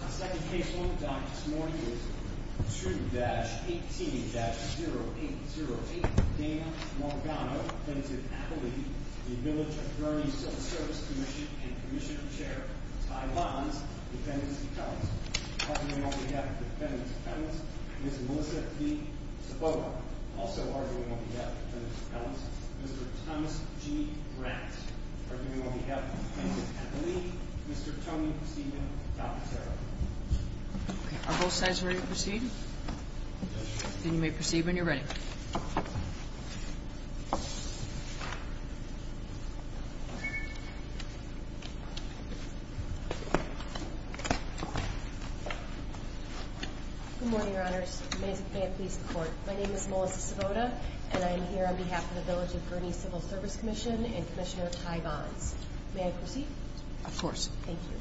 2-18-0808 Dana Maligano, Defensive Appellee Village of Gurnee Civil Service Commission and Commissioner Chair Ty Lons, Defensive Appellee Arguing on behalf of Defensive Appellees Ms. Melissa V. Saboa, also arguing on behalf of Defensive Appellees Mr. Thomas G. Grant, arguing on behalf of Defensive Appellees Mr. Tony Steven D'Alfisaro Are both sides ready to proceed? Then you may proceed when you're ready. Good morning, Your Honors. May it please the Court. My name is Melissa Sabota, and I am here on behalf of the Village of Gurnee Civil Service Commission and Commissioner Ty Lons. May I proceed? Of course. Thank you.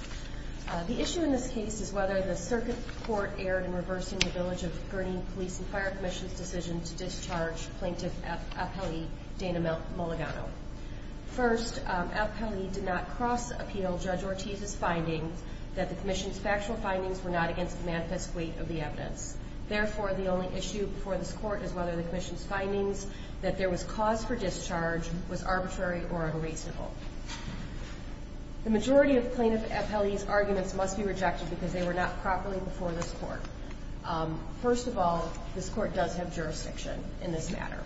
The issue in this case is whether the Circuit Court erred in reversing the Village of Gurnee Police and Fire Commission's decision to discharge Plaintiff Appellee Dana Maligano. First, Appellee did not cross-appeal Judge Ortiz's findings that the Commission's factual findings were not against the manifest weight of the evidence. Therefore, the only issue before this Court is whether the Commission's findings that there was cause for discharge was arbitrary or unreasonable. The majority of Plaintiff Appellee's arguments must be rejected because they were not properly before this Court. First of all, this Court does have jurisdiction in this matter.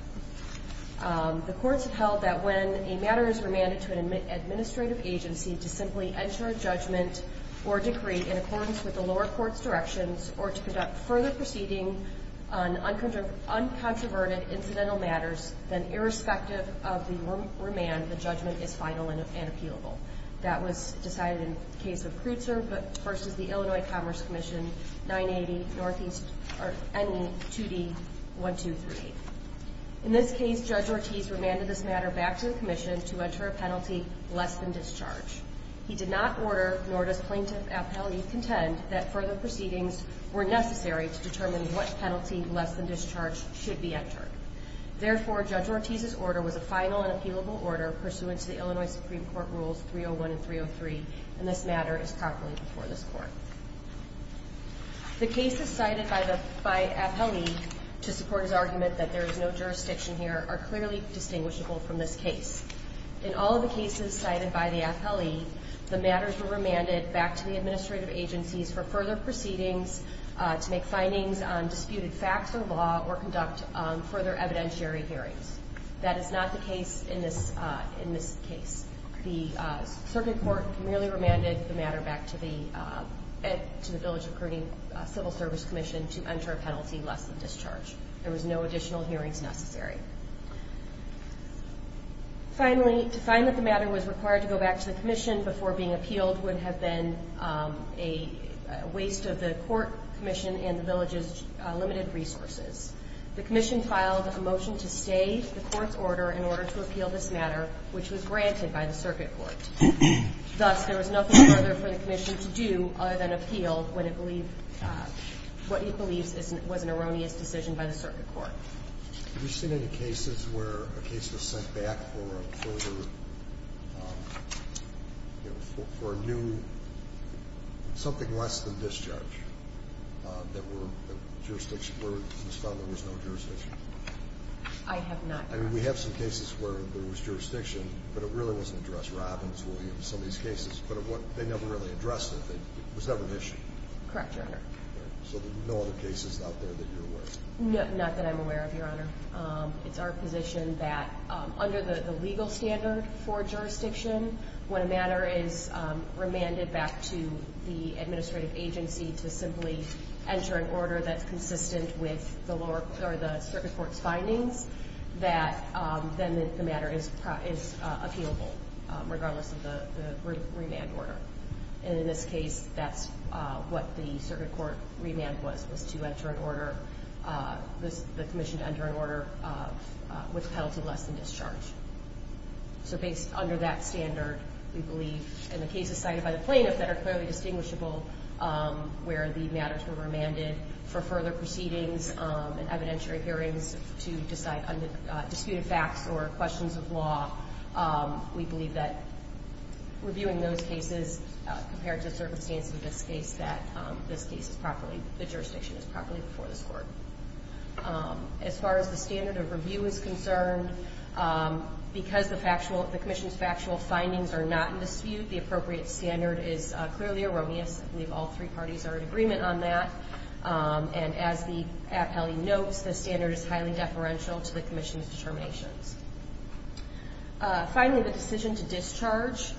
The Courts have held that when a matter is remanded to an administrative agency to simply enter a judgment or decree in accordance with the lower court's directions or to conduct further proceeding on uncontroverted incidental matters, then irrespective of the remand, the judgment is final and appealable. That was decided in the case of Kreutzer v. Illinois Commerce Commission 980 NE 2D 1238. In this case, Judge Ortiz remanded this matter back to the Commission to enter a penalty less than discharge. He did not order, nor does Plaintiff Appellee contend, that further proceedings were necessary to determine what penalty less than discharge should be entered. Therefore, Judge Ortiz's order was a final and appealable order pursuant to the Illinois Supreme Court Rules 301 and 303, and this matter is properly before this Court. The cases cited by Appellee to support his argument that there is no jurisdiction here are clearly distinguishable from this case. In all of the cases cited by the Appellee, the matters were remanded back to the administrative agencies for further proceedings to make findings on disputed facts or law or conduct further evidentiary hearings. That is not the case in this case. The circuit court merely remanded the matter back to the Village Recruiting Civil Service Commission to enter a penalty less than discharge. There was no additional hearings necessary. Finally, to find that the matter was required to go back to the Commission before being appealed would have been a waste of the Court Commission and the Village's limited resources. The Commission filed a motion to stay the Court's order in order to appeal this matter, which was granted by the circuit court. Thus, there was nothing further for the Commission to do other than appeal what it believes was an erroneous decision by the circuit court. Have you seen any cases where a case was sent back for a new, something less than discharge, where it was found there was no jurisdiction? I have not, Your Honor. I mean, we have some cases where there was jurisdiction, but it really wasn't addressed. Robbins, Williams, some of these cases, but they never really addressed it. It was never an issue. Correct, Your Honor. So there are no other cases out there that you're aware of? Not that I'm aware of, Your Honor. It's our position that under the legal standard for jurisdiction, when a matter is remanded back to the administrative agency to simply enter an order that's consistent with the circuit court's findings, that then the matter is appealable, regardless of the remand order. And in this case, that's what the circuit court remand was, was to enter an order, the Commission to enter an order with a penalty less than discharge. So based under that standard, we believe in the cases cited by the plaintiff that are clearly distinguishable, where the matters were remanded for further proceedings and evidentiary hearings to decide on disputed facts or questions of law, we believe that reviewing those cases, compared to the circumstances of this case, that this case is properly, the jurisdiction is properly before this court. As far as the standard of review is concerned, because the Commission's factual findings are not in dispute, the appropriate standard is clearly erroneous. I believe all three parties are in agreement on that. And as the appellee notes, the standard is highly deferential to the Commission's determinations. Finally, the decision to discharge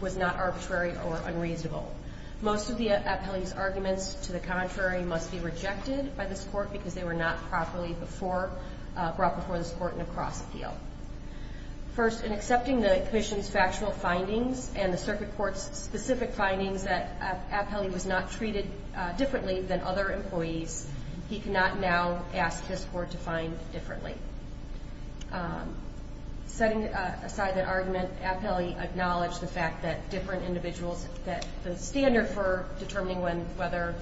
was not arbitrary or unreasonable. Most of the appellee's arguments to the contrary must be rejected by this court because they were not properly brought before this court in a cross-appeal. First, in accepting the Commission's factual findings and the circuit court's specific findings that appellee was not treated differently than other employees, he cannot now ask his court to find differently. Setting aside that argument, appellee acknowledged the fact that different individuals, that the standard for determining whether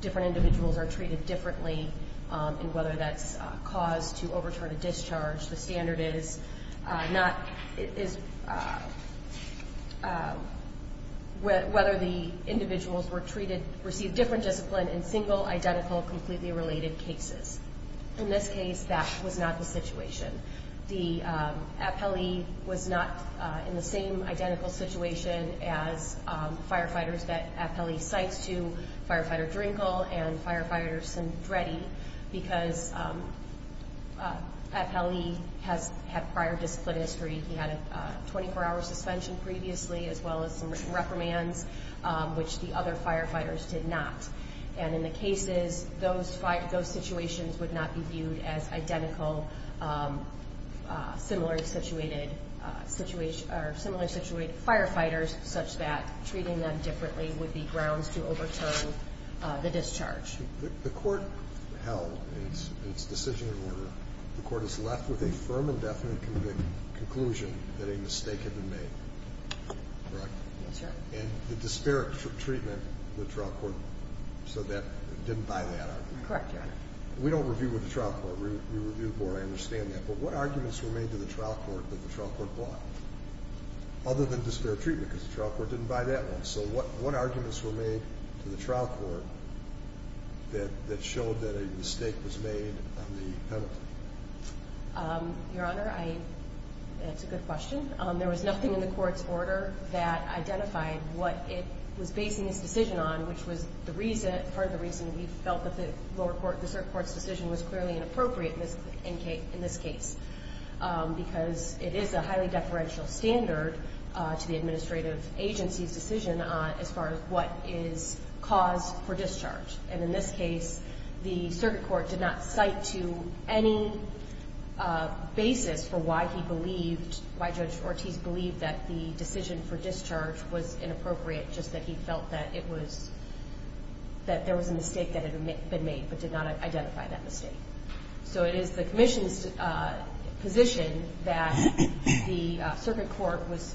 different individuals are treated differently and whether that's cause to overturn a discharge, the standard is whether the individuals were treated, received different discipline in single, identical, completely related cases. In this case, that was not the situation. The appellee was not in the same identical situation as firefighters that appellee cites to, Firefighter Drinkle and Firefighter Cendretti, because appellee has had prior discipline history. He had a 24-hour suspension previously, as well as some reprimands, which the other firefighters did not. And in the cases, those situations would not be viewed as identical, similarly situated firefighters, such that treating them differently would be grounds to overturn the discharge. The court held its decision in order. The court is left with a firm and definite conclusion that a mistake had been made, correct? Yes, sir. And the disparate treatment the trial court, so that didn't buy that argument? Correct, Your Honor. We don't review with the trial court. We review before I understand that. But what arguments were made to the trial court that the trial court blocked, other than disparate treatment, because the trial court didn't buy that one? So what arguments were made to the trial court that showed that a mistake was made on the penalty? Your Honor, that's a good question. There was nothing in the court's order that identified what it was basing its decision on, which was part of the reason we felt that the lower court, the circuit court's decision, was clearly inappropriate in this case, because it is a highly deferential standard to the administrative agency's decision as far as what is cause for discharge. And in this case, the circuit court did not cite to any basis for why he believed, why Judge Ortiz believed that the decision for discharge was inappropriate, just that he felt that it was, that there was a mistake that had been made, but did not identify that mistake. So it is the commission's position that the circuit court was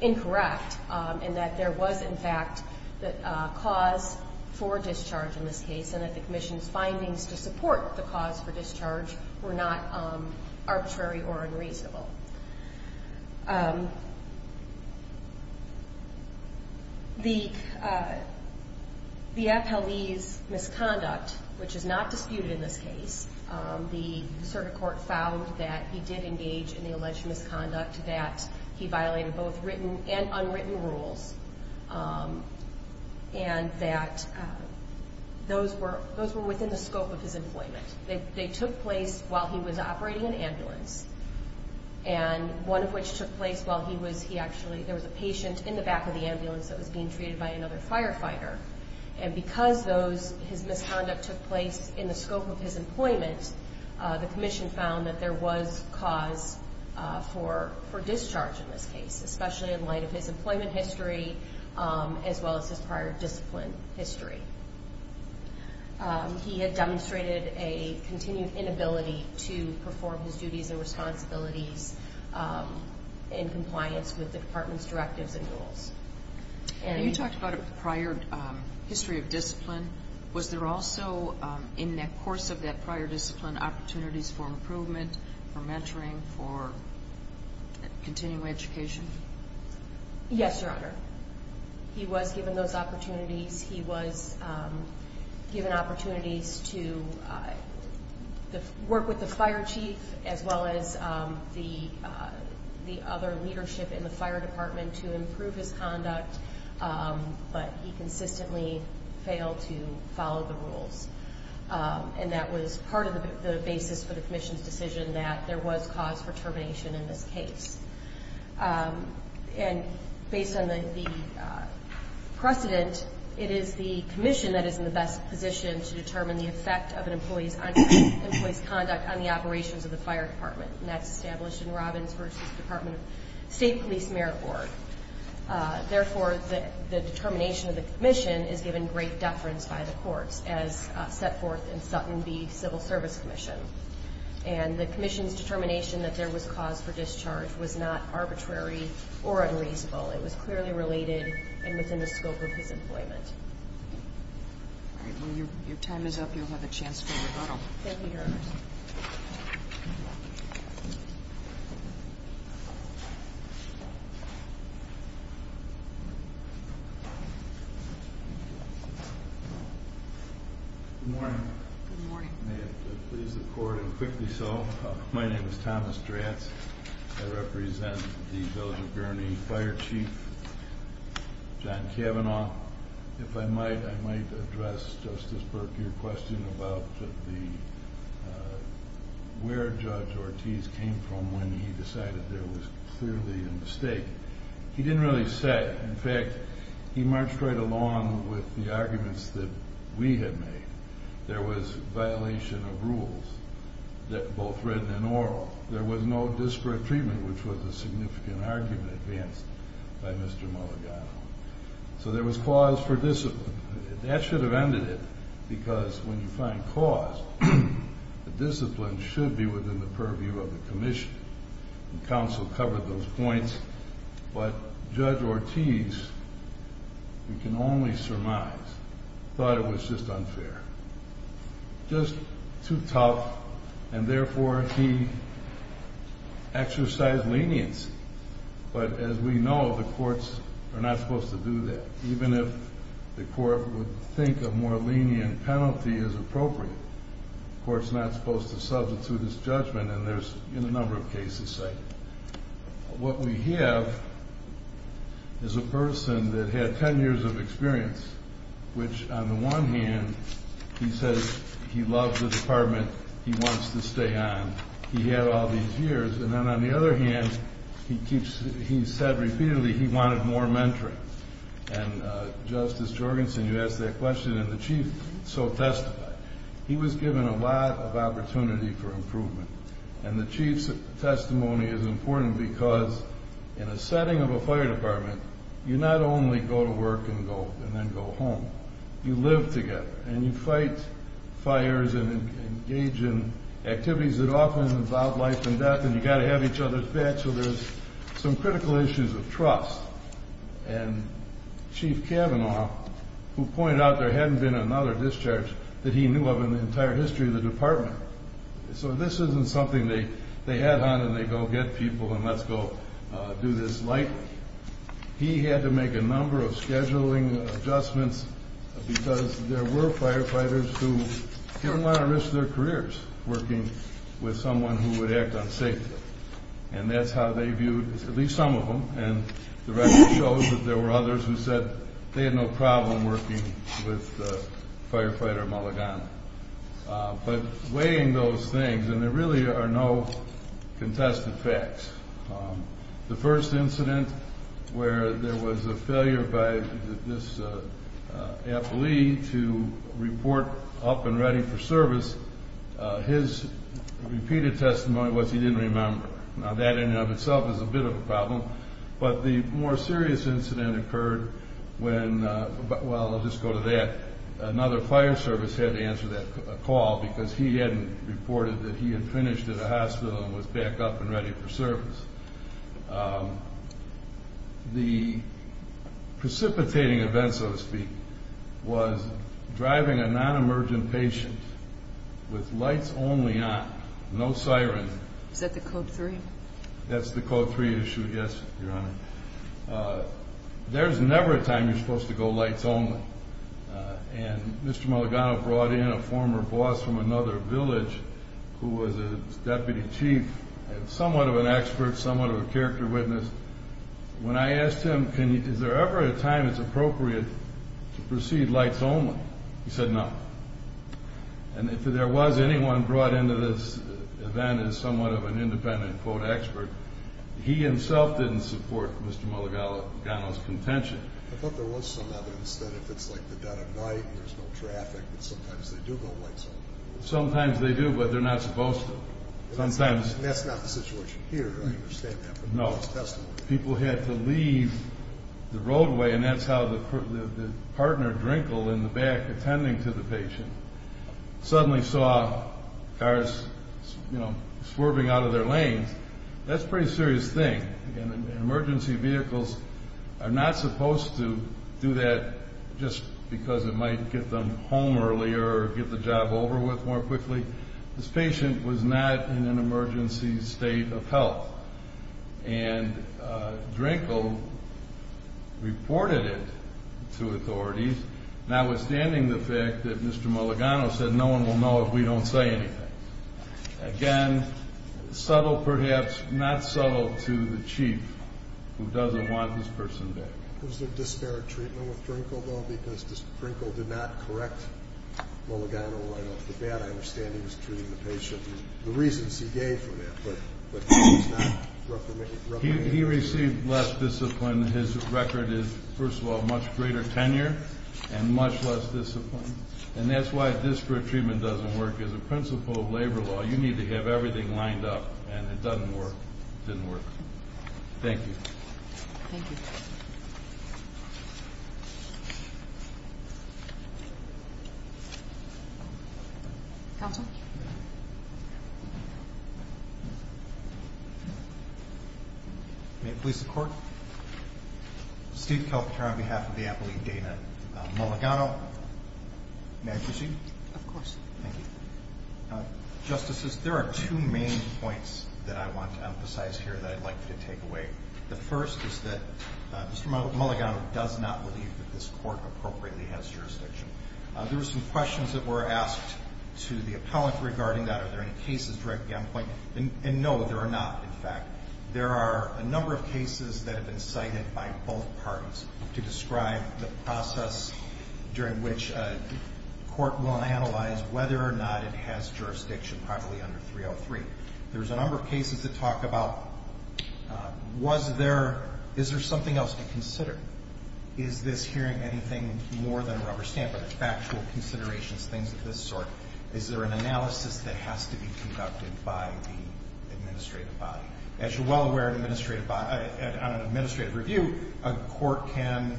incorrect and that there was, in fact, cause for discharge in this case and that the commission's findings to support the cause for discharge were not arbitrary or unreasonable. The appellee's misconduct, which is not disputed in this case, the circuit court found that he did engage in the alleged misconduct, that he violated both written and unwritten rules, and that those were within the scope of his employment. They took place while he was operating an ambulance, and one of which took place while he was, he actually, there was a patient in the back of the ambulance that was being treated by another firefighter, and because those, his misconduct took place in the scope of his employment, the commission found that there was cause for discharge in this case, especially in light of his employment history, as well as his prior discipline history. He had demonstrated a continued inability to perform his duties and responsibilities in compliance with the department's directives and rules. Was there also, in the course of that prior discipline, opportunities for improvement, for mentoring, for continuing education? Yes, Your Honor. He was given those opportunities. He was given opportunities to work with the fire chief as well as the other leadership in the fire department to improve his conduct, but he consistently failed to follow the rules, and that was part of the basis for the commission's decision that there was cause for termination in this case. And based on the precedent, it is the commission that is in the best position to determine the effect of an employee's conduct on the operations of the fire department, and that's established in Robbins v. Department of State Police Merit Board. Therefore, the determination of the commission is given great deference by the courts as set forth in Sutton v. Civil Service Commission. And the commission's determination that there was cause for discharge was not arbitrary or unreasonable. It was clearly related and within the scope of his employment. All right. Well, your time is up. Thank you, Your Honor. Thank you. Good morning. Good morning. May it please the Court, and quickly so, my name is Thomas Dratz. I represent the Village of Gurney Fire Chief, John Cavanaugh. If I might, I might address, Justice Burke, your question about where Judge Ortiz came from when he decided there was clearly a mistake. He didn't really say. In fact, he marched right along with the arguments that we had made. There was violation of rules, both written and oral. There was no disparate treatment, which was a significant argument advanced by Mr. Mulligano. So there was cause for discipline. That should have ended it, because when you find cause, the discipline should be within the purview of the commission. The counsel covered those points, but Judge Ortiz, you can only surmise, thought it was just unfair, just too tough, and therefore he exercised leniency. But as we know, the courts are not supposed to do that. Even if the court would think a more lenient penalty is appropriate, the court is not supposed to substitute its judgment, and there's a number of cases like that. What we have is a person that had 10 years of experience, which on the one hand, he says he loves the department, he wants to stay on. He had all these years. And then on the other hand, he said repeatedly he wanted more mentoring. And Justice Jorgensen, you asked that question, and the Chief so testified. He was given a lot of opportunity for improvement, and the Chief's testimony is important because in a setting of a fire department, you not only go to work and then go home, you live together, and you fight fires and engage in activities that often involve life and death, and you've got to have each other's back, so there's some critical issues of trust. And Chief Kavanaugh, who pointed out there hadn't been another discharge, that he knew of in the entire history of the department. So this isn't something they add on and they go get people and let's go do this lightly. He had to make a number of scheduling adjustments because there were firefighters who didn't want to risk their careers working with someone who would act unsafely, and that's how they viewed at least some of them, and the record shows that there were others who said they had no problem working with firefighter Mulligan. But weighing those things, and there really are no contested facts. The first incident where there was a failure by this employee to report up and ready for service, his repeated testimony was he didn't remember. Now that in and of itself is a bit of a problem, but the more serious incident occurred when, well, I'll just go to that. Another fire service had to answer that call because he hadn't reported that he had finished at a hospital and was back up and ready for service. The precipitating event, so to speak, was driving a non-emergent patient with lights only on, no siren. Is that the Code 3? That's the Code 3 issue, yes, Your Honor. There's never a time you're supposed to go lights only, and Mr. Mulligan brought in a former boss from another village who was a deputy chief, somewhat of an expert, somewhat of a character witness. When I asked him is there ever a time it's appropriate to proceed lights only, he said no. And if there was anyone brought into this event as somewhat of an independent, quote, expert, he himself didn't support Mr. Mulligan's contention. I thought there was some evidence that if it's like the dead of night and there's no traffic, that sometimes they do go lights only. Sometimes they do, but they're not supposed to. That's not the situation here, I understand that from his testimony. People had to leave the roadway, and that's how the partner, Drinkle, in the back attending to the patient, suddenly saw cars, you know, swerving out of their lanes. That's a pretty serious thing, and emergency vehicles are not supposed to do that just because it might get them home earlier or get the job over with more quickly. This patient was not in an emergency state of health. And Drinkle reported it to authorities, notwithstanding the fact that Mr. Mulligan said, no one will know if we don't say anything. Again, subtle perhaps, not subtle to the chief who doesn't want this person back. Was there disparate treatment with Drinkle, though, because Drinkle did not correct Mulligan I understand he was treating the patient. The reasons he gave for that, but he's not recommending it. He received less discipline. His record is, first of all, much greater tenure and much less discipline, and that's why disparate treatment doesn't work. As a principle of labor law, you need to have everything lined up, and it doesn't work. It didn't work. Thank you. Thank you. Counsel? May it please the Court? Steve Kalpatar on behalf of the appellee Dana Mulligan. May I proceed? Of course. Thank you. Justices, there are two main points that I want to emphasize here that I'd like you to take away. The first is that Mr. Mulligan does not believe that this court appropriately has jurisdiction. There were some questions that were asked to the appellant regarding that. Are there any cases directly on point? And no, there are not, in fact. There are a number of cases that have been cited by both parties to describe the process during which a court will analyze whether or not it has jurisdiction properly under 303. There's a number of cases that talk about was there, is there something else to consider? Is this hearing anything more than a rubber stamp of factual considerations, things of this sort? Is there an analysis that has to be conducted by the administrative body? As you're well aware, on an administrative review, a court can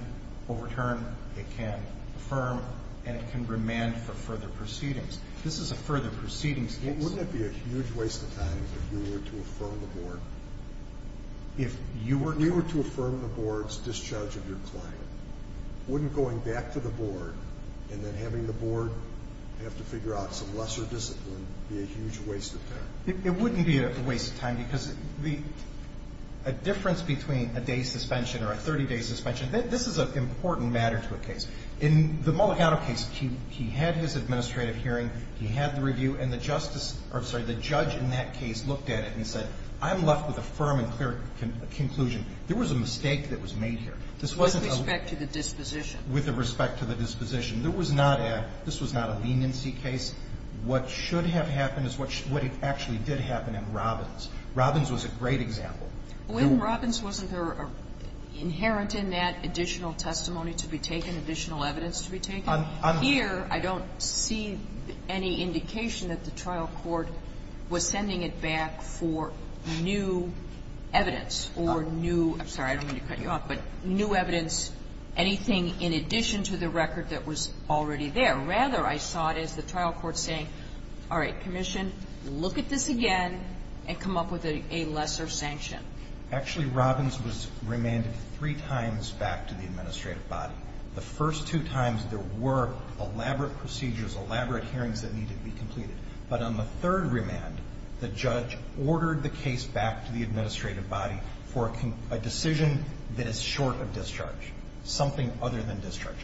overturn, it can affirm, and it can remand for further proceedings. This is a further proceedings case. Wouldn't it be a huge waste of time if you were to affirm the board? If you were to? If you were to affirm the board's discharge of your claim, wouldn't going back to the board and then having the board have to figure out some lesser discipline be a huge waste of time? It wouldn't be a waste of time because a difference between a day's suspension or a 30-day suspension, this is an important matter to a case. In the Mulligan case, he had his administrative hearing, he had the review, and the judge in that case looked at it and said, I'm left with a firm and clear conclusion. There was a mistake that was made here. This wasn't a ---- With respect to the disposition. With respect to the disposition. There was not a ---- this was not a leniency case. What should have happened is what actually did happen in Robbins. Robbins was a great example. Well, in Robbins, wasn't there inherent in that additional testimony to be taken, additional evidence to be taken? Here, I don't see any indication that the trial court was sending it back for new evidence or new ---- I'm sorry, I don't mean to cut you off, but new evidence, anything in addition to the record that was already there. Rather, I saw it as the trial court saying, all right, commission, look at this again and come up with a lesser sanction. Actually, Robbins was remanded three times back to the administrative body. The first two times, there were elaborate procedures, elaborate hearings that needed to be completed. But on the third remand, the judge ordered the case back to the administrative body for a decision that is short of discharge, something other than discharge.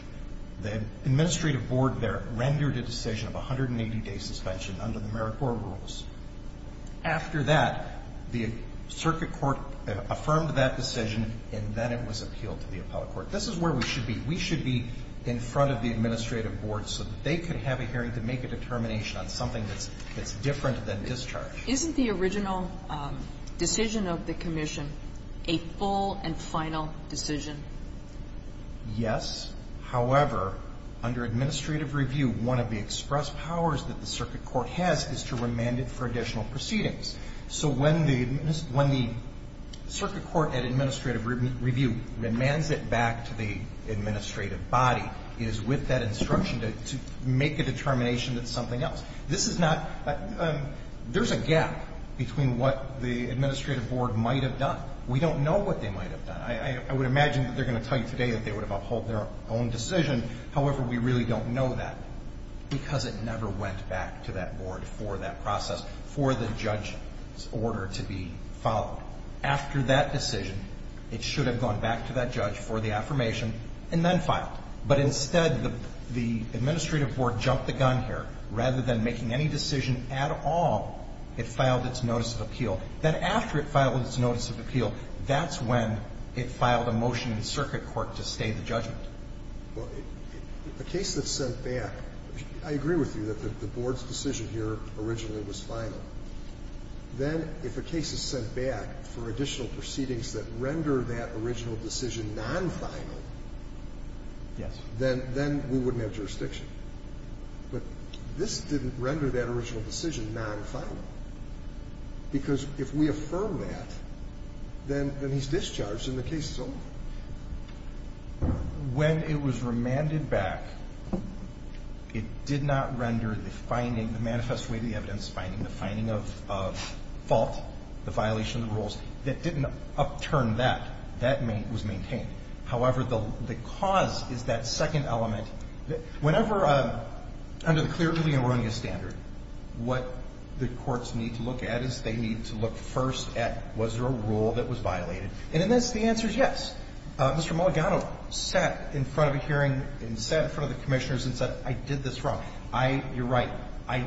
The administrative board there rendered a decision of 180-day suspension under the merit board rules. After that, the circuit court affirmed that decision, and then it was appealed to the appellate court. This is where we should be. We should be in front of the administrative board so that they can have a hearing to make a determination on something that's different than discharge. Isn't the original decision of the commission a full and final decision? Yes. However, under administrative review, one of the express powers that the circuit court has is to remand it for additional proceedings. So when the circuit court at administrative review remands it back to the administrative body, it is with that instruction to make a determination that it's something else. There's a gap between what the administrative board might have done. We don't know what they might have done. I would imagine that they're going to tell you today that they would have upheld their own decision. However, we really don't know that because it never went back to that board for that process, for the judge's order to be followed. After that decision, it should have gone back to that judge for the affirmation and then filed. But instead, the administrative board jumped the gun here. Rather than making any decision at all, it filed its notice of appeal. Then after it filed its notice of appeal, that's when it filed a motion in circuit court to stay the judgment. Well, a case that's sent back, I agree with you that the board's decision here originally was final. Then if a case is sent back for additional proceedings that render that original decision non-final, then we wouldn't have jurisdiction. But this didn't render that original decision non-final because if we affirm that, then he's discharged and the case is over. When it was remanded back, it did not render the finding, the manifest way of the evidence finding, the finding of fault, the violation of the rules. That didn't upturn that. That was maintained. However, the cause is that second element. Whenever, under the clearly erroneous standard, what the courts need to look at is they need to look first at was there a rule that was violated. And in this, the answer is yes. Mr. Mulligano sat in front of a hearing and sat in front of the commissioners and said, I did this wrong. You're right. I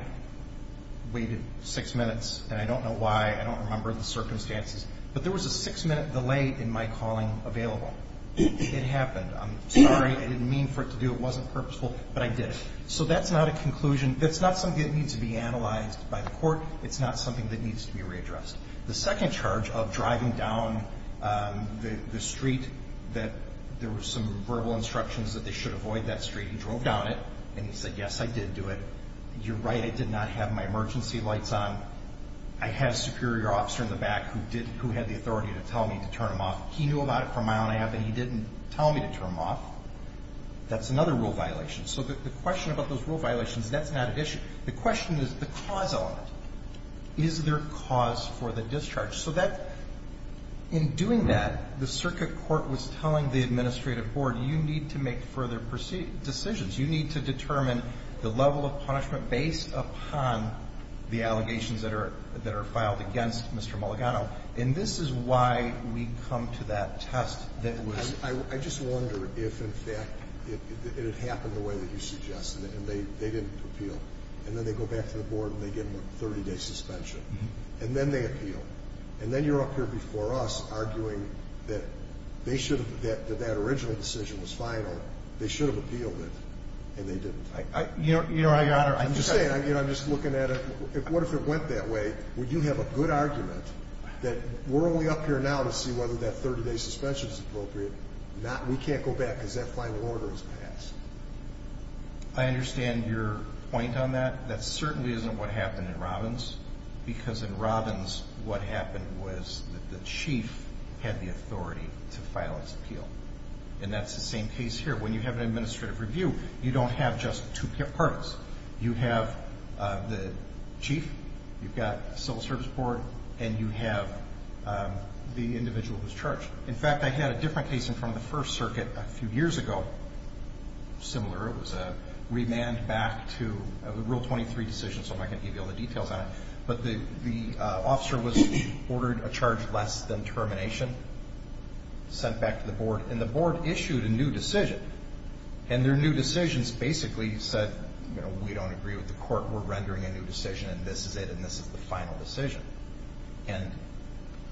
waited six minutes, and I don't know why. I don't remember the circumstances. But there was a six-minute delay in my calling available. It happened. I'm sorry. I didn't mean for it to do it. It wasn't purposeful. But I did it. So that's not a conclusion. That's not something that needs to be analyzed by the court. It's not something that needs to be readdressed. The second charge of driving down the street that there were some verbal instructions that they should avoid that street. He drove down it, and he said, yes, I did do it. You're right. I did not have my emergency lights on. I had a superior officer in the back who had the authority to tell me to turn them off. He knew about it for a mile and a half, and he didn't tell me to turn them off. That's another rule violation. So the question about those rule violations, that's not an issue. The question is the cause of it. Is there cause for the discharge? So in doing that, the circuit court was telling the administrative board, you need to make further decisions. You need to determine the level of punishment based upon the allegations that are filed against Mr. Mulligano. And this is why we come to that test. I just wonder if, in fact, it had happened the way that you suggested, and they didn't appeal. And then they go back to the board, and they give them a 30-day suspension. And then they appeal. And then you're up here before us arguing that they should have, that that original decision was final. They should have appealed it, and they didn't. I'm just saying, I'm just looking at it. What if it went that way? Would you have a good argument that we're only up here now to see whether that 30-day suspension is appropriate? We can't go back because that final order is passed. I understand your point on that. That certainly isn't what happened in Robbins, because in Robbins what happened was that the chief had the authority to file its appeal. And that's the same case here. When you have an administrative review, you don't have just two parties. You have the chief, you've got civil service board, and you have the individual who's charged. In fact, I had a different case in front of the First Circuit a few years ago, similar. It was a remand back to Rule 23 decision, so I'm not going to give you all the details on it. But the officer was ordered a charge less than termination, sent back to the board, and the board issued a new decision. And their new decisions basically said, you know, we don't agree with the court, we're rendering a new decision, and this is it, and this is the final decision. And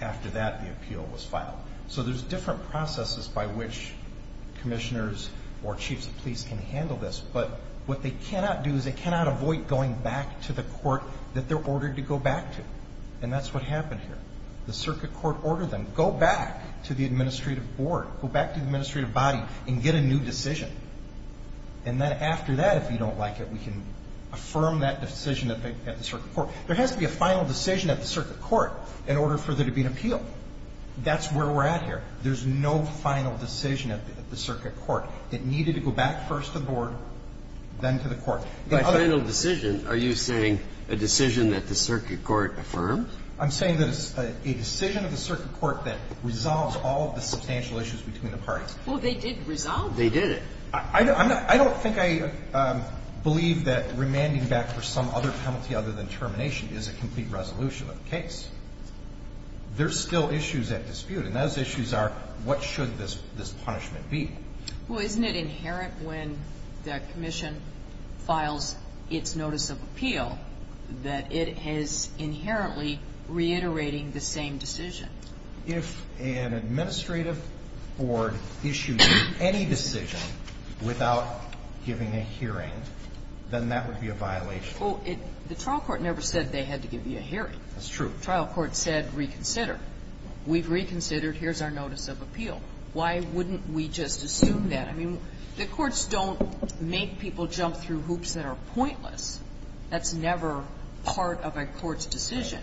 after that, the appeal was filed. So there's different processes by which commissioners or chiefs of police can handle this. But what they cannot do is they cannot avoid going back to the court that they're ordered to go back to. And that's what happened here. The circuit court ordered them, go back to the administrative board, go back to the administrative body and get a new decision. And then after that, if you don't like it, we can affirm that decision at the circuit court. There has to be a final decision at the circuit court in order for there to be an appeal. That's where we're at here. There's no final decision at the circuit court. It needed to go back first to the board, then to the court. By final decision, are you saying a decision that the circuit court affirmed? I'm saying that it's a decision of the circuit court that resolves all of the substantial issues between the parties. Well, they did resolve it. They did. I don't think I believe that remanding back for some other penalty other than termination is a complete resolution of the case. There's still issues at dispute, and those issues are what should this punishment be. Well, isn't it inherent when the commission files its notice of appeal that it has I mean, it's not just a matter of repeating a decision. It's inherently reiterating the same decision. If an administrative board issues any decision without giving a hearing, then that would be a violation. Well, the trial court never said they had to give you a hearing. That's true. The trial court said reconsider. We've reconsidered. Here's our notice of appeal. Why wouldn't we just assume that? I mean, the courts don't make people jump through hoops that are pointless. That's never part of a court's decision.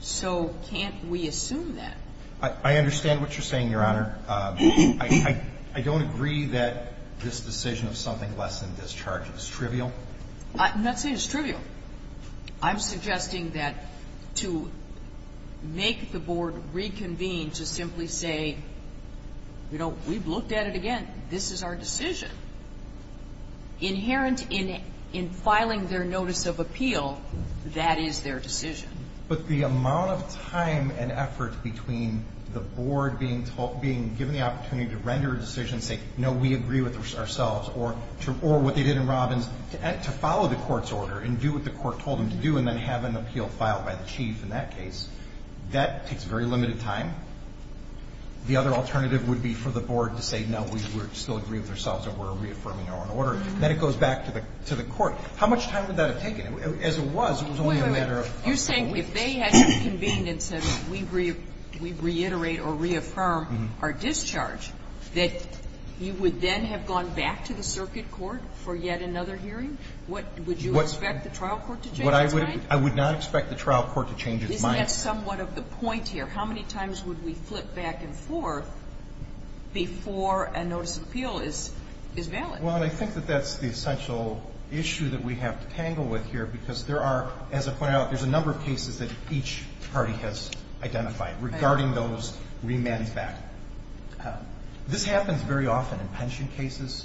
So can't we assume that? I understand what you're saying, Your Honor. I don't agree that this decision of something less than discharge is trivial. I'm not saying it's trivial. I'm suggesting that to make the board reconvene to simply say, you know, we've looked at it again. This is our decision. Inherent in filing their notice of appeal, that is their decision. But the amount of time and effort between the board being given the opportunity to render a decision, say, no, we agree with ourselves, or what they did in Robbins, to follow the court's order and do what the court told them to do and then have an appeal filed by the chief in that case, that takes very limited time. The other alternative would be for the board to say, no, we still agree with ourselves and we're reaffirming our own order. Then it goes back to the court. How much time would that have taken? As it was, it was only a matter of time. Wait, wait, wait. You're saying if they had convened and said, we reiterate or reaffirm our discharge, that you would then have gone back to the circuit court for yet another hearing? Would you expect the trial court to change its mind? I would not expect the trial court to change its mind. Isn't that somewhat of the point here? How many times would we flip back and forth before a notice of appeal is valid? Well, I think that that's the essential issue that we have to tangle with here, because there are, as I pointed out, there's a number of cases that each party has identified regarding those remands back. This happens very often in pension cases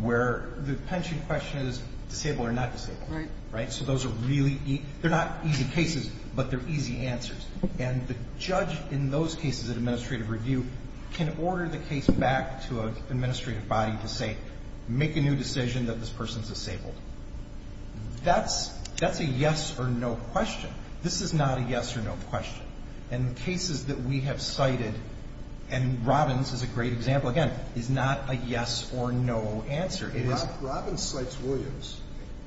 where the pension question is disabled or not disabled. Right. So those are really easy. They're not easy cases, but they're easy answers. And the judge in those cases at administrative review can order the case back to an administrative body to say, make a new decision that this person is disabled. That's a yes or no question. This is not a yes or no question. And the cases that we have cited, and Robbins is a great example, again, is not a yes or no answer. Robbins cites Williams,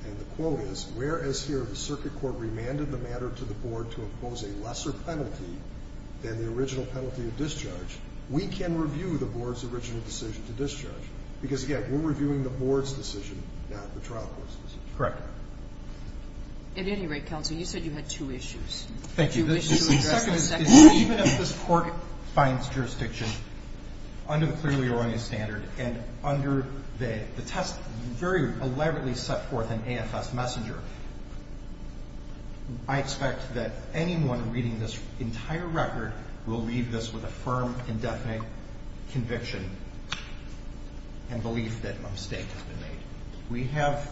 and the quote is, whereas here the circuit court remanded the matter to the board to impose a lesser penalty than the original penalty of discharge, we can review the board's original decision to discharge. Because, again, we're reviewing the board's decision, not the trial court's decision. Correct. At any rate, counsel, you said you had two issues. Thank you. The second is even if this court finds jurisdiction under the clearly erroneous standard and under the test very elaborately set forth in AFS Messenger, I expect that anyone reading this entire record will leave this with a firm, indefinite conviction and belief that a mistake has been made. We have,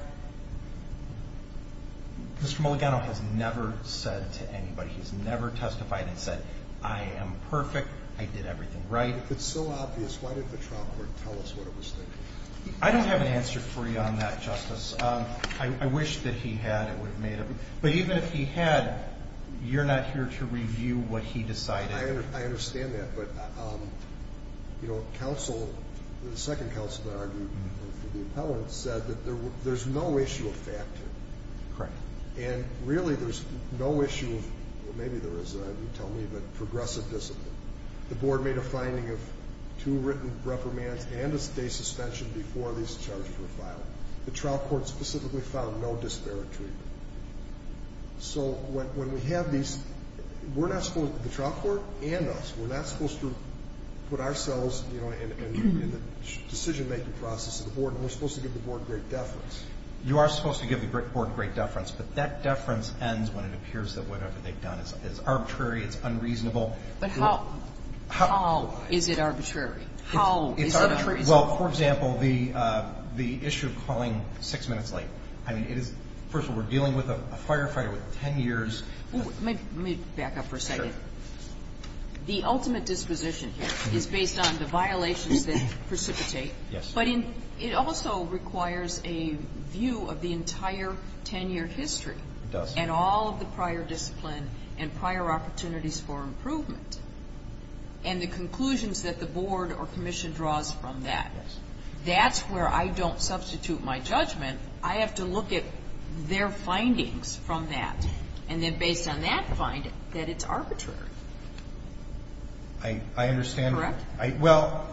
Mr. Mulligano has never said to anybody, he's never testified and said, I am perfect, I did everything right. It's so obvious. Why didn't the trial court tell us what it was thinking? I don't have an answer for you on that, Justice. I wish that he had. But even if he had, you're not here to review what he decided. I understand that. But, you know, counsel, the second counsel that argued for the appellant, said that there's no issue of fact here. Correct. And really there's no issue of, maybe there is, you tell me, but progressive discipline. The board made a finding of two written reprimands and a stay suspension before these charges were filed. The trial court specifically found no disparate treatment. So when we have these, we're not supposed, the trial court and us, we're not supposed to put ourselves, you know, in the decision-making process of the board, and we're supposed to give the board great deference. You are supposed to give the board great deference, but that deference ends when it appears that whatever they've done is arbitrary, it's unreasonable. But how is it arbitrary? How is it unreasonable? Well, for example, the issue of calling six minutes late. I mean, it is, first of all, we're dealing with a firefighter with ten years. Let me back up for a second. Sure. The ultimate disposition here is based on the violations that precipitate. Yes. But it also requires a view of the entire ten-year history. It does. And all of the prior discipline and prior opportunities for improvement. And the conclusions that the board or commission draws from that. Yes. That's where I don't substitute my judgment. I have to look at their findings from that, and then based on that find that it's arbitrary. I understand. Correct? Well,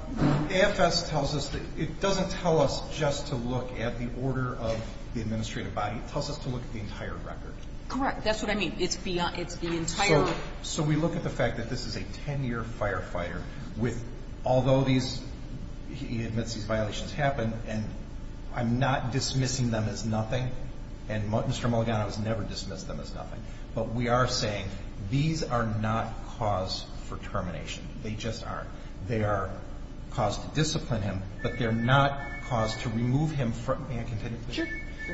AFS tells us that it doesn't tell us just to look at the order of the administrative body. It tells us to look at the entire record. Correct. That's what I mean. It's the entire. So we look at the fact that this is a ten-year firefighter with, although he admits these violations happened, and I'm not dismissing them as nothing, and Mr. Mulugano has never dismissed them as nothing, but we are saying these are not cause for termination. They just aren't. They are cause to discipline him, but they're not cause to remove him from. May I continue? Sure.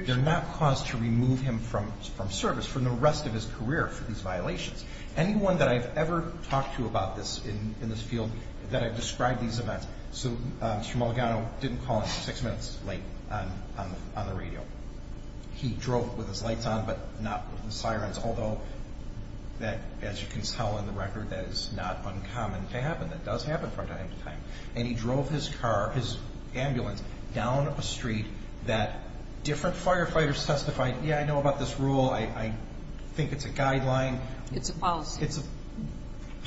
They're not cause to remove him from service for the rest of his career for these violations. Anyone that I've ever talked to about this in this field, that I've described these events. So Mr. Mulugano didn't call in six minutes late on the radio. He drove with his lights on but not with the sirens, although that, as you can tell in the record, that is not uncommon to happen. That does happen from time to time. And he drove his car, his ambulance, down a street that different firefighters testified, yeah, I know about this rule. I think it's a guideline. It's a policy. It's a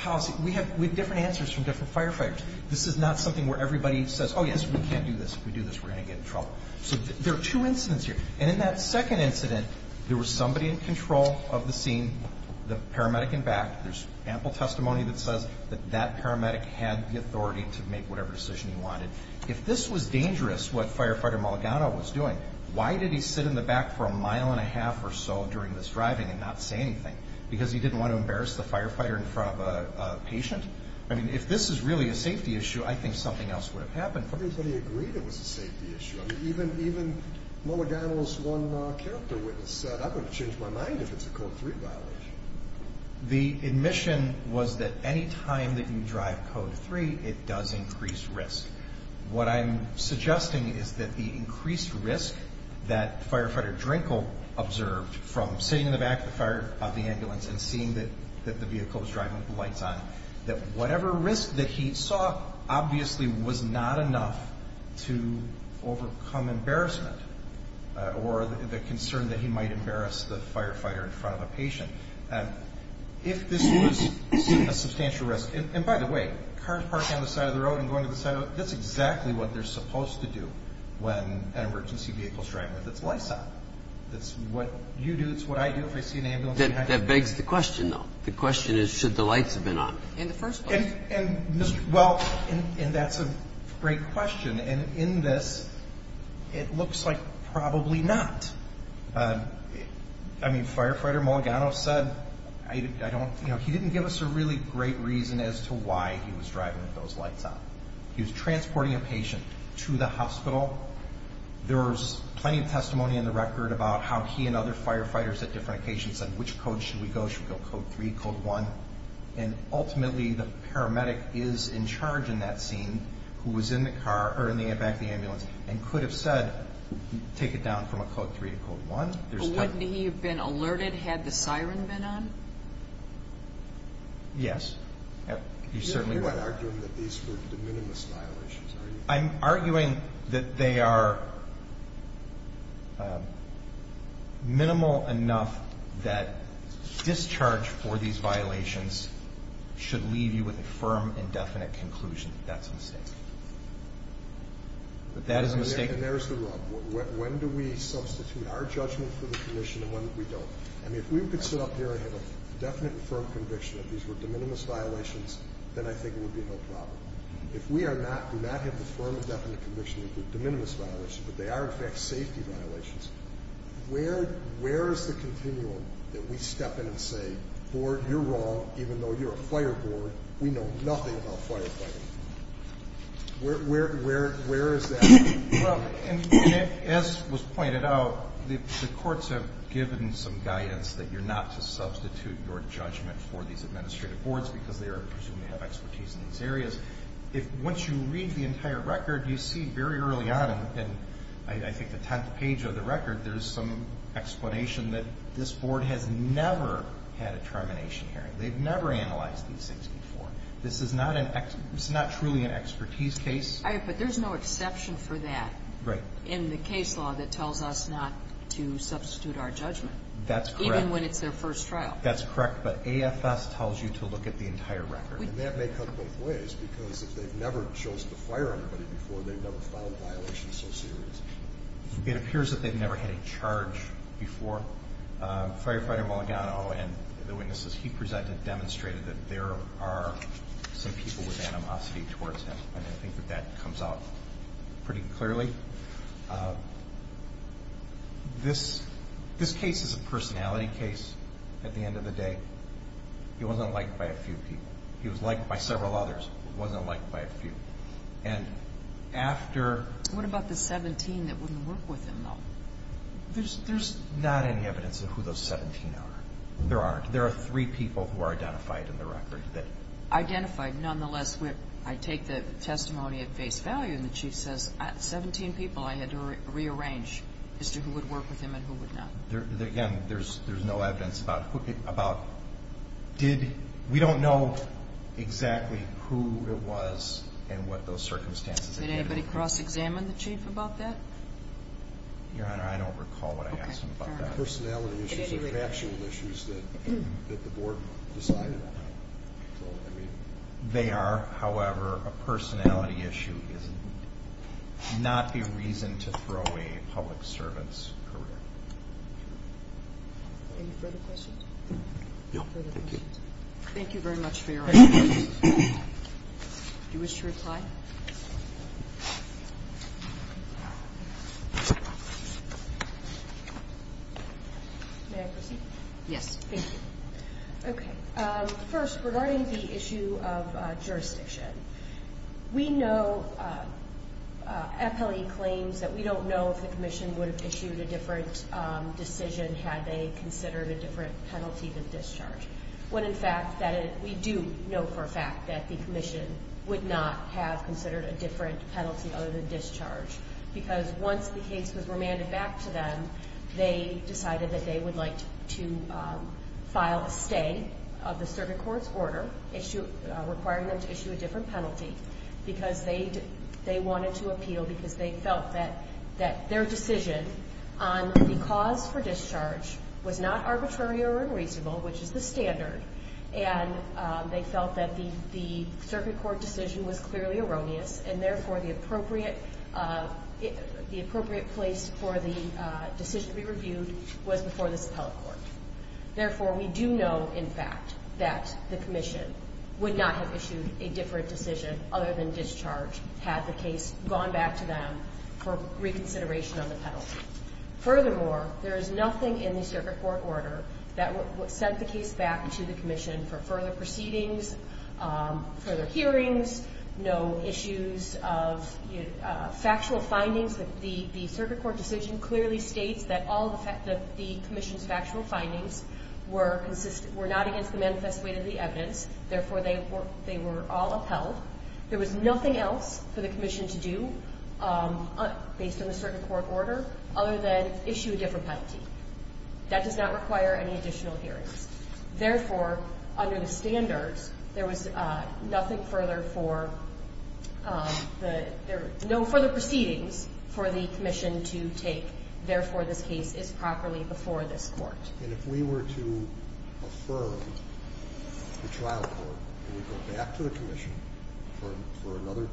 policy. We have different answers from different firefighters. This is not something where everybody says, oh, yes, we can't do this. If we do this, we're going to get in trouble. So there are two incidents here. And in that second incident, there was somebody in control of the scene, the paramedic in back. There's ample testimony that says that that paramedic had the authority to make whatever decision he wanted. If this was dangerous, what Firefighter Mulugano was doing, why did he sit in the back for a mile and a half or so during this driving and not say anything? Because he didn't want to embarrass the firefighter in front of a patient? I mean, if this is really a safety issue, I think something else would have happened. Everybody agreed it was a safety issue. I mean, even Mulugano's one character witness said, I'm going to change my mind if it's a Code 3 violation. The admission was that any time that you drive Code 3, it does increase risk. What I'm suggesting is that the increased risk that Firefighter Drinkel observed from sitting in the back of the ambulance and seeing that the vehicle was driving with the lights on, that whatever risk that he saw obviously was not enough to overcome embarrassment or the concern that he might embarrass the firefighter in front of a patient. If this was a substantial risk, and by the way, cars parked on the side of the road and going to the side of the road, that's exactly what they're supposed to do when an emergency vehicle is driving with its lights on. That's what you do. It's what I do if I see an ambulance. That begs the question, though. The question is, should the lights have been on in the first place? Well, and that's a great question. And in this, it looks like probably not. I mean, Firefighter Mulugano said, he didn't give us a really great reason as to why he was driving with those lights on. He was transporting a patient to the hospital. There was plenty of testimony in the record about how he and other firefighters at different occasions said, which code should we go? Should we go Code 3, Code 1? And ultimately, the paramedic is in charge in that scene who was in the back of the ambulance and could have said, take it down from a Code 3 to Code 1. But wouldn't he have been alerted had the siren been on? Yes. You certainly would. You're not arguing that these were de minimis violations, are you? I'm arguing that they are minimal enough that discharge for these violations should leave you with a firm and definite conclusion that that's a mistake. That is a mistake. And there's the rub. When do we substitute our judgment for the commission and when do we don't? I mean, if we could sit up here and have a definite and firm conviction that these were de minimis violations, then I think it would be no problem. If we do not have the firm and definite conviction that they're de minimis violations, but they are, in fact, safety violations, where is the continuum that we step in and say, Board, you're wrong even though you're a fire board. We know nothing about firefighting. Where is that? As was pointed out, the courts have given some guidance that you're not to substitute your judgment for these administrative boards because they are presumed to have expertise in these areas. Once you read the entire record, you see very early on, and I think the tenth page of the record, there's some explanation that this board has never had a termination hearing. They've never analyzed these things before. This is not truly an expertise case. But there's no exception for that in the case law that tells us not to substitute our judgment. That's correct. Even when it's their first trial. That's correct. But AFS tells you to look at the entire record. And that may come both ways because if they've never chosen to fire anybody before, they've never filed a violation so seriously. It appears that they've never had a charge before. Firefighter Maligano and the witnesses he presented demonstrated that there are some people with animosity towards him, and I think that that comes out pretty clearly. This case is a personality case at the end of the day. He wasn't liked by a few people. He was liked by several others, but wasn't liked by a few. And after... What about the 17 that wouldn't work with him, though? There's not any evidence of who those 17 are. There aren't. There are three people who are identified in the record that... Identified. Nonetheless, I take the testimony at face value, and the Chief says 17 people I had to rearrange as to who would work with him and who would not. Again, there's no evidence about who did. We don't know exactly who it was and what those circumstances. Did anybody cross-examine the Chief about that? Your Honor, I don't recall what I asked him about that. They're not personality issues. They're actual issues that the Board decided on. They are, however, a personality issue. It's not the reason to throw away a public servant's career. Any further questions? No. Thank you very much for your testimony. Do you wish to reply? May I proceed? Yes. Thank you. Okay. First, regarding the issue of jurisdiction, we know FLE claims that we don't know if the Commission would have issued a different decision had they considered a different penalty than discharge, when, in fact, we do know for a fact that the Commission would not have considered a different penalty other than discharge, because once the case was remanded back to them, they decided that they would like to file a stay of the Circuit Court's order requiring them to issue a different penalty because they wanted to appeal was not arbitrary or unreasonable, which is the standard, and they felt that the Circuit Court decision was clearly erroneous and, therefore, the appropriate place for the decision to be reviewed was before the Suppell Court. Therefore, we do know, in fact, that the Commission would not have issued a different decision other than discharge had the case gone back to them for reconsideration on the penalty. Furthermore, there is nothing in the Circuit Court order that sent the case back to the Commission for further proceedings, further hearings, no issues of factual findings. The Circuit Court decision clearly states that all the Commission's factual findings were not against the manifest weight of the evidence. Therefore, they were all upheld. There was nothing else for the Commission to do, based on the Circuit Court order, other than issue a different penalty. That does not require any additional hearings. Therefore, under the standards, there was nothing further for the – no further proceedings for the Commission to take. Therefore, this case is properly before this Court. And if we were to affirm the trial court, and we go back to the Commission for another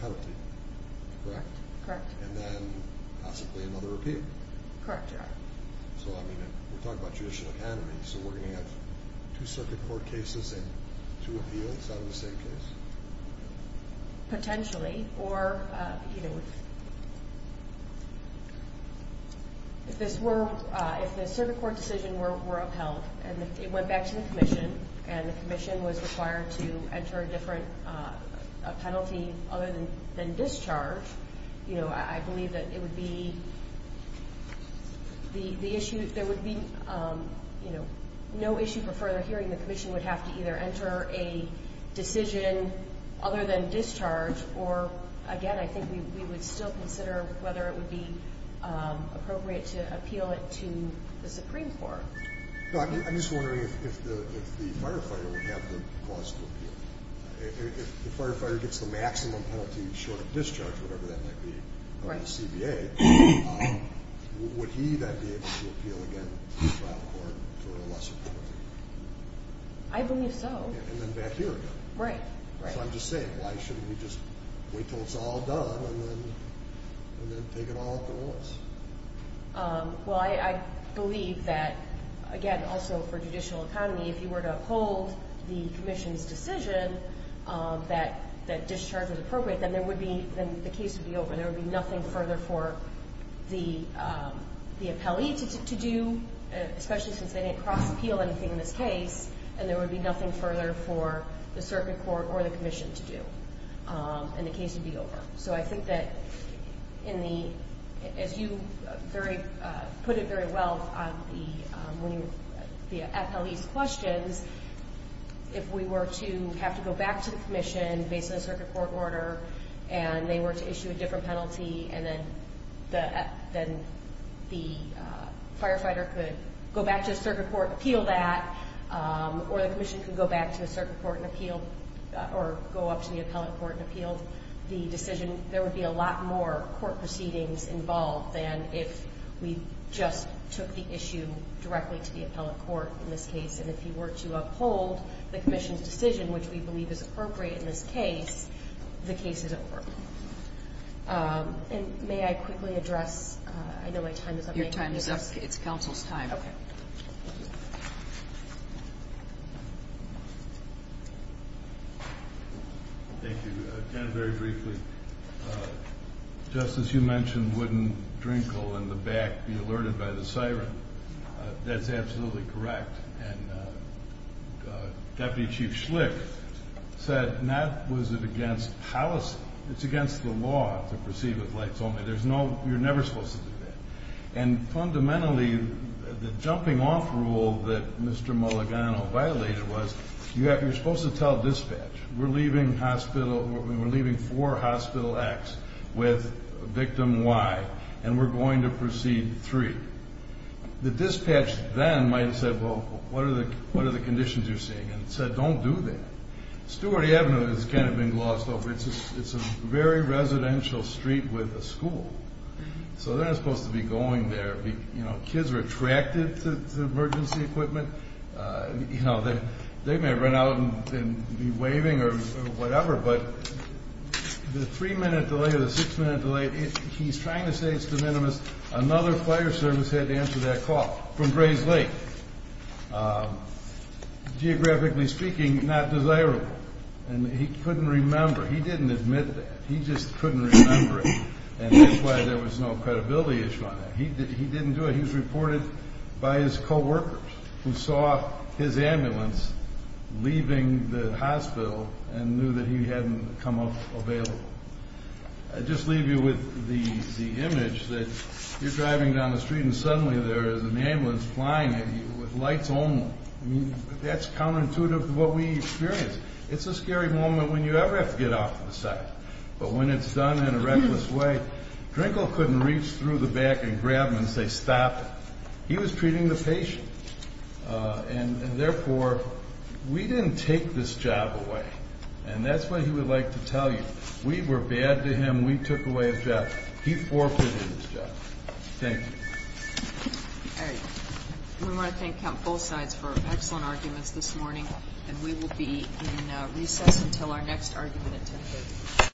penalty, correct? Correct. And then possibly another appeal. Correct, Your Honor. So, I mean, we're talking about judicial academy, so we're going to have two Circuit Court cases and two appeals out of the same case? Potentially. Or, you know, if this were – and it went back to the Commission, and the Commission was required to enter a different penalty other than discharge, you know, I believe that it would be the issue – there would be, you know, no issue for further hearing. The Commission would have to either enter a decision other than discharge, or, again, I think we would still consider whether it would be appropriate to appeal it to the Supreme Court. I'm just wondering if the firefighter would have the cause to appeal. If the firefighter gets the maximum penalty short of discharge, whatever that might be, on the CBA, would he then be able to appeal again to the trial court for a lesser penalty? I believe so. And then back here again. Right. So I'm just saying, why shouldn't we just wait until it's all done and then take it all at once? Well, I believe that, again, also for judicial economy, if you were to uphold the Commission's decision that discharge was appropriate, then there would be – then the case would be over. There would be nothing further for the appellee to do, especially since they didn't cross-appeal anything in this case, and there would be nothing further for the circuit court or the Commission to do, and the case would be over. So I think that in the – as you put it very well on the appellee's questions, if we were to have to go back to the Commission based on the circuit court order and they were to issue a different penalty, and then the firefighter could go back to the circuit court and appeal that, or the Commission could go back to the circuit court and appeal or go up to the appellate court and appeal the decision, there would be a lot more court proceedings involved than if we just took the issue directly to the appellate court in this case. And if you were to uphold the Commission's decision, which we believe is appropriate in this case, the case is over. And may I quickly address – I know my time is up. Your time is up. It's counsel's time. Okay. Thank you. Again, very briefly, Justice, you mentioned wouldn't Drinkle in the back be alerted by the siren. That's absolutely correct. And Deputy Chief Schlick said not was it against policy. It's against the law to proceed with lights only. There's no – you're never supposed to do that. And fundamentally, the jumping-off rule that Mr. Mulligano violated was you're supposed to tell dispatch, we're leaving four Hospital X with victim Y, and we're going to proceed three. The dispatch then might have said, well, what are the conditions you're seeing? And said, don't do that. Stewart Avenue has kind of been glossed over. It's a very residential street with a school. So they're not supposed to be going there. You know, kids are attracted to emergency equipment. You know, they may run out and be waving or whatever, but the three-minute delay or the six-minute delay, he's trying to say it's de minimis. Another fire service had to answer that call from Grays Lake. Geographically speaking, not desirable. And he couldn't remember. He didn't admit that. He just couldn't remember it. And that's why there was no credibility issue on that. He didn't do it. He was reported by his coworkers, who saw his ambulance leaving the hospital and knew that he hadn't come up available. I'll just leave you with the image that you're driving down the street and suddenly there is an ambulance flying at you with lights on. I mean, that's counterintuitive to what we experienced. It's a scary moment when you ever have to get off the site. But when it's done in a reckless way, Drinkel couldn't reach through the back and grab him and say, Stop it. He was treating the patient. And, therefore, we didn't take this job away. And that's what he would like to tell you. We were bad to him. We took away his job. He forfeited his job. Thank you. All right. We want to thank both sides for excellent arguments this morning, and we will be in recess until our next argument at 10 a.m.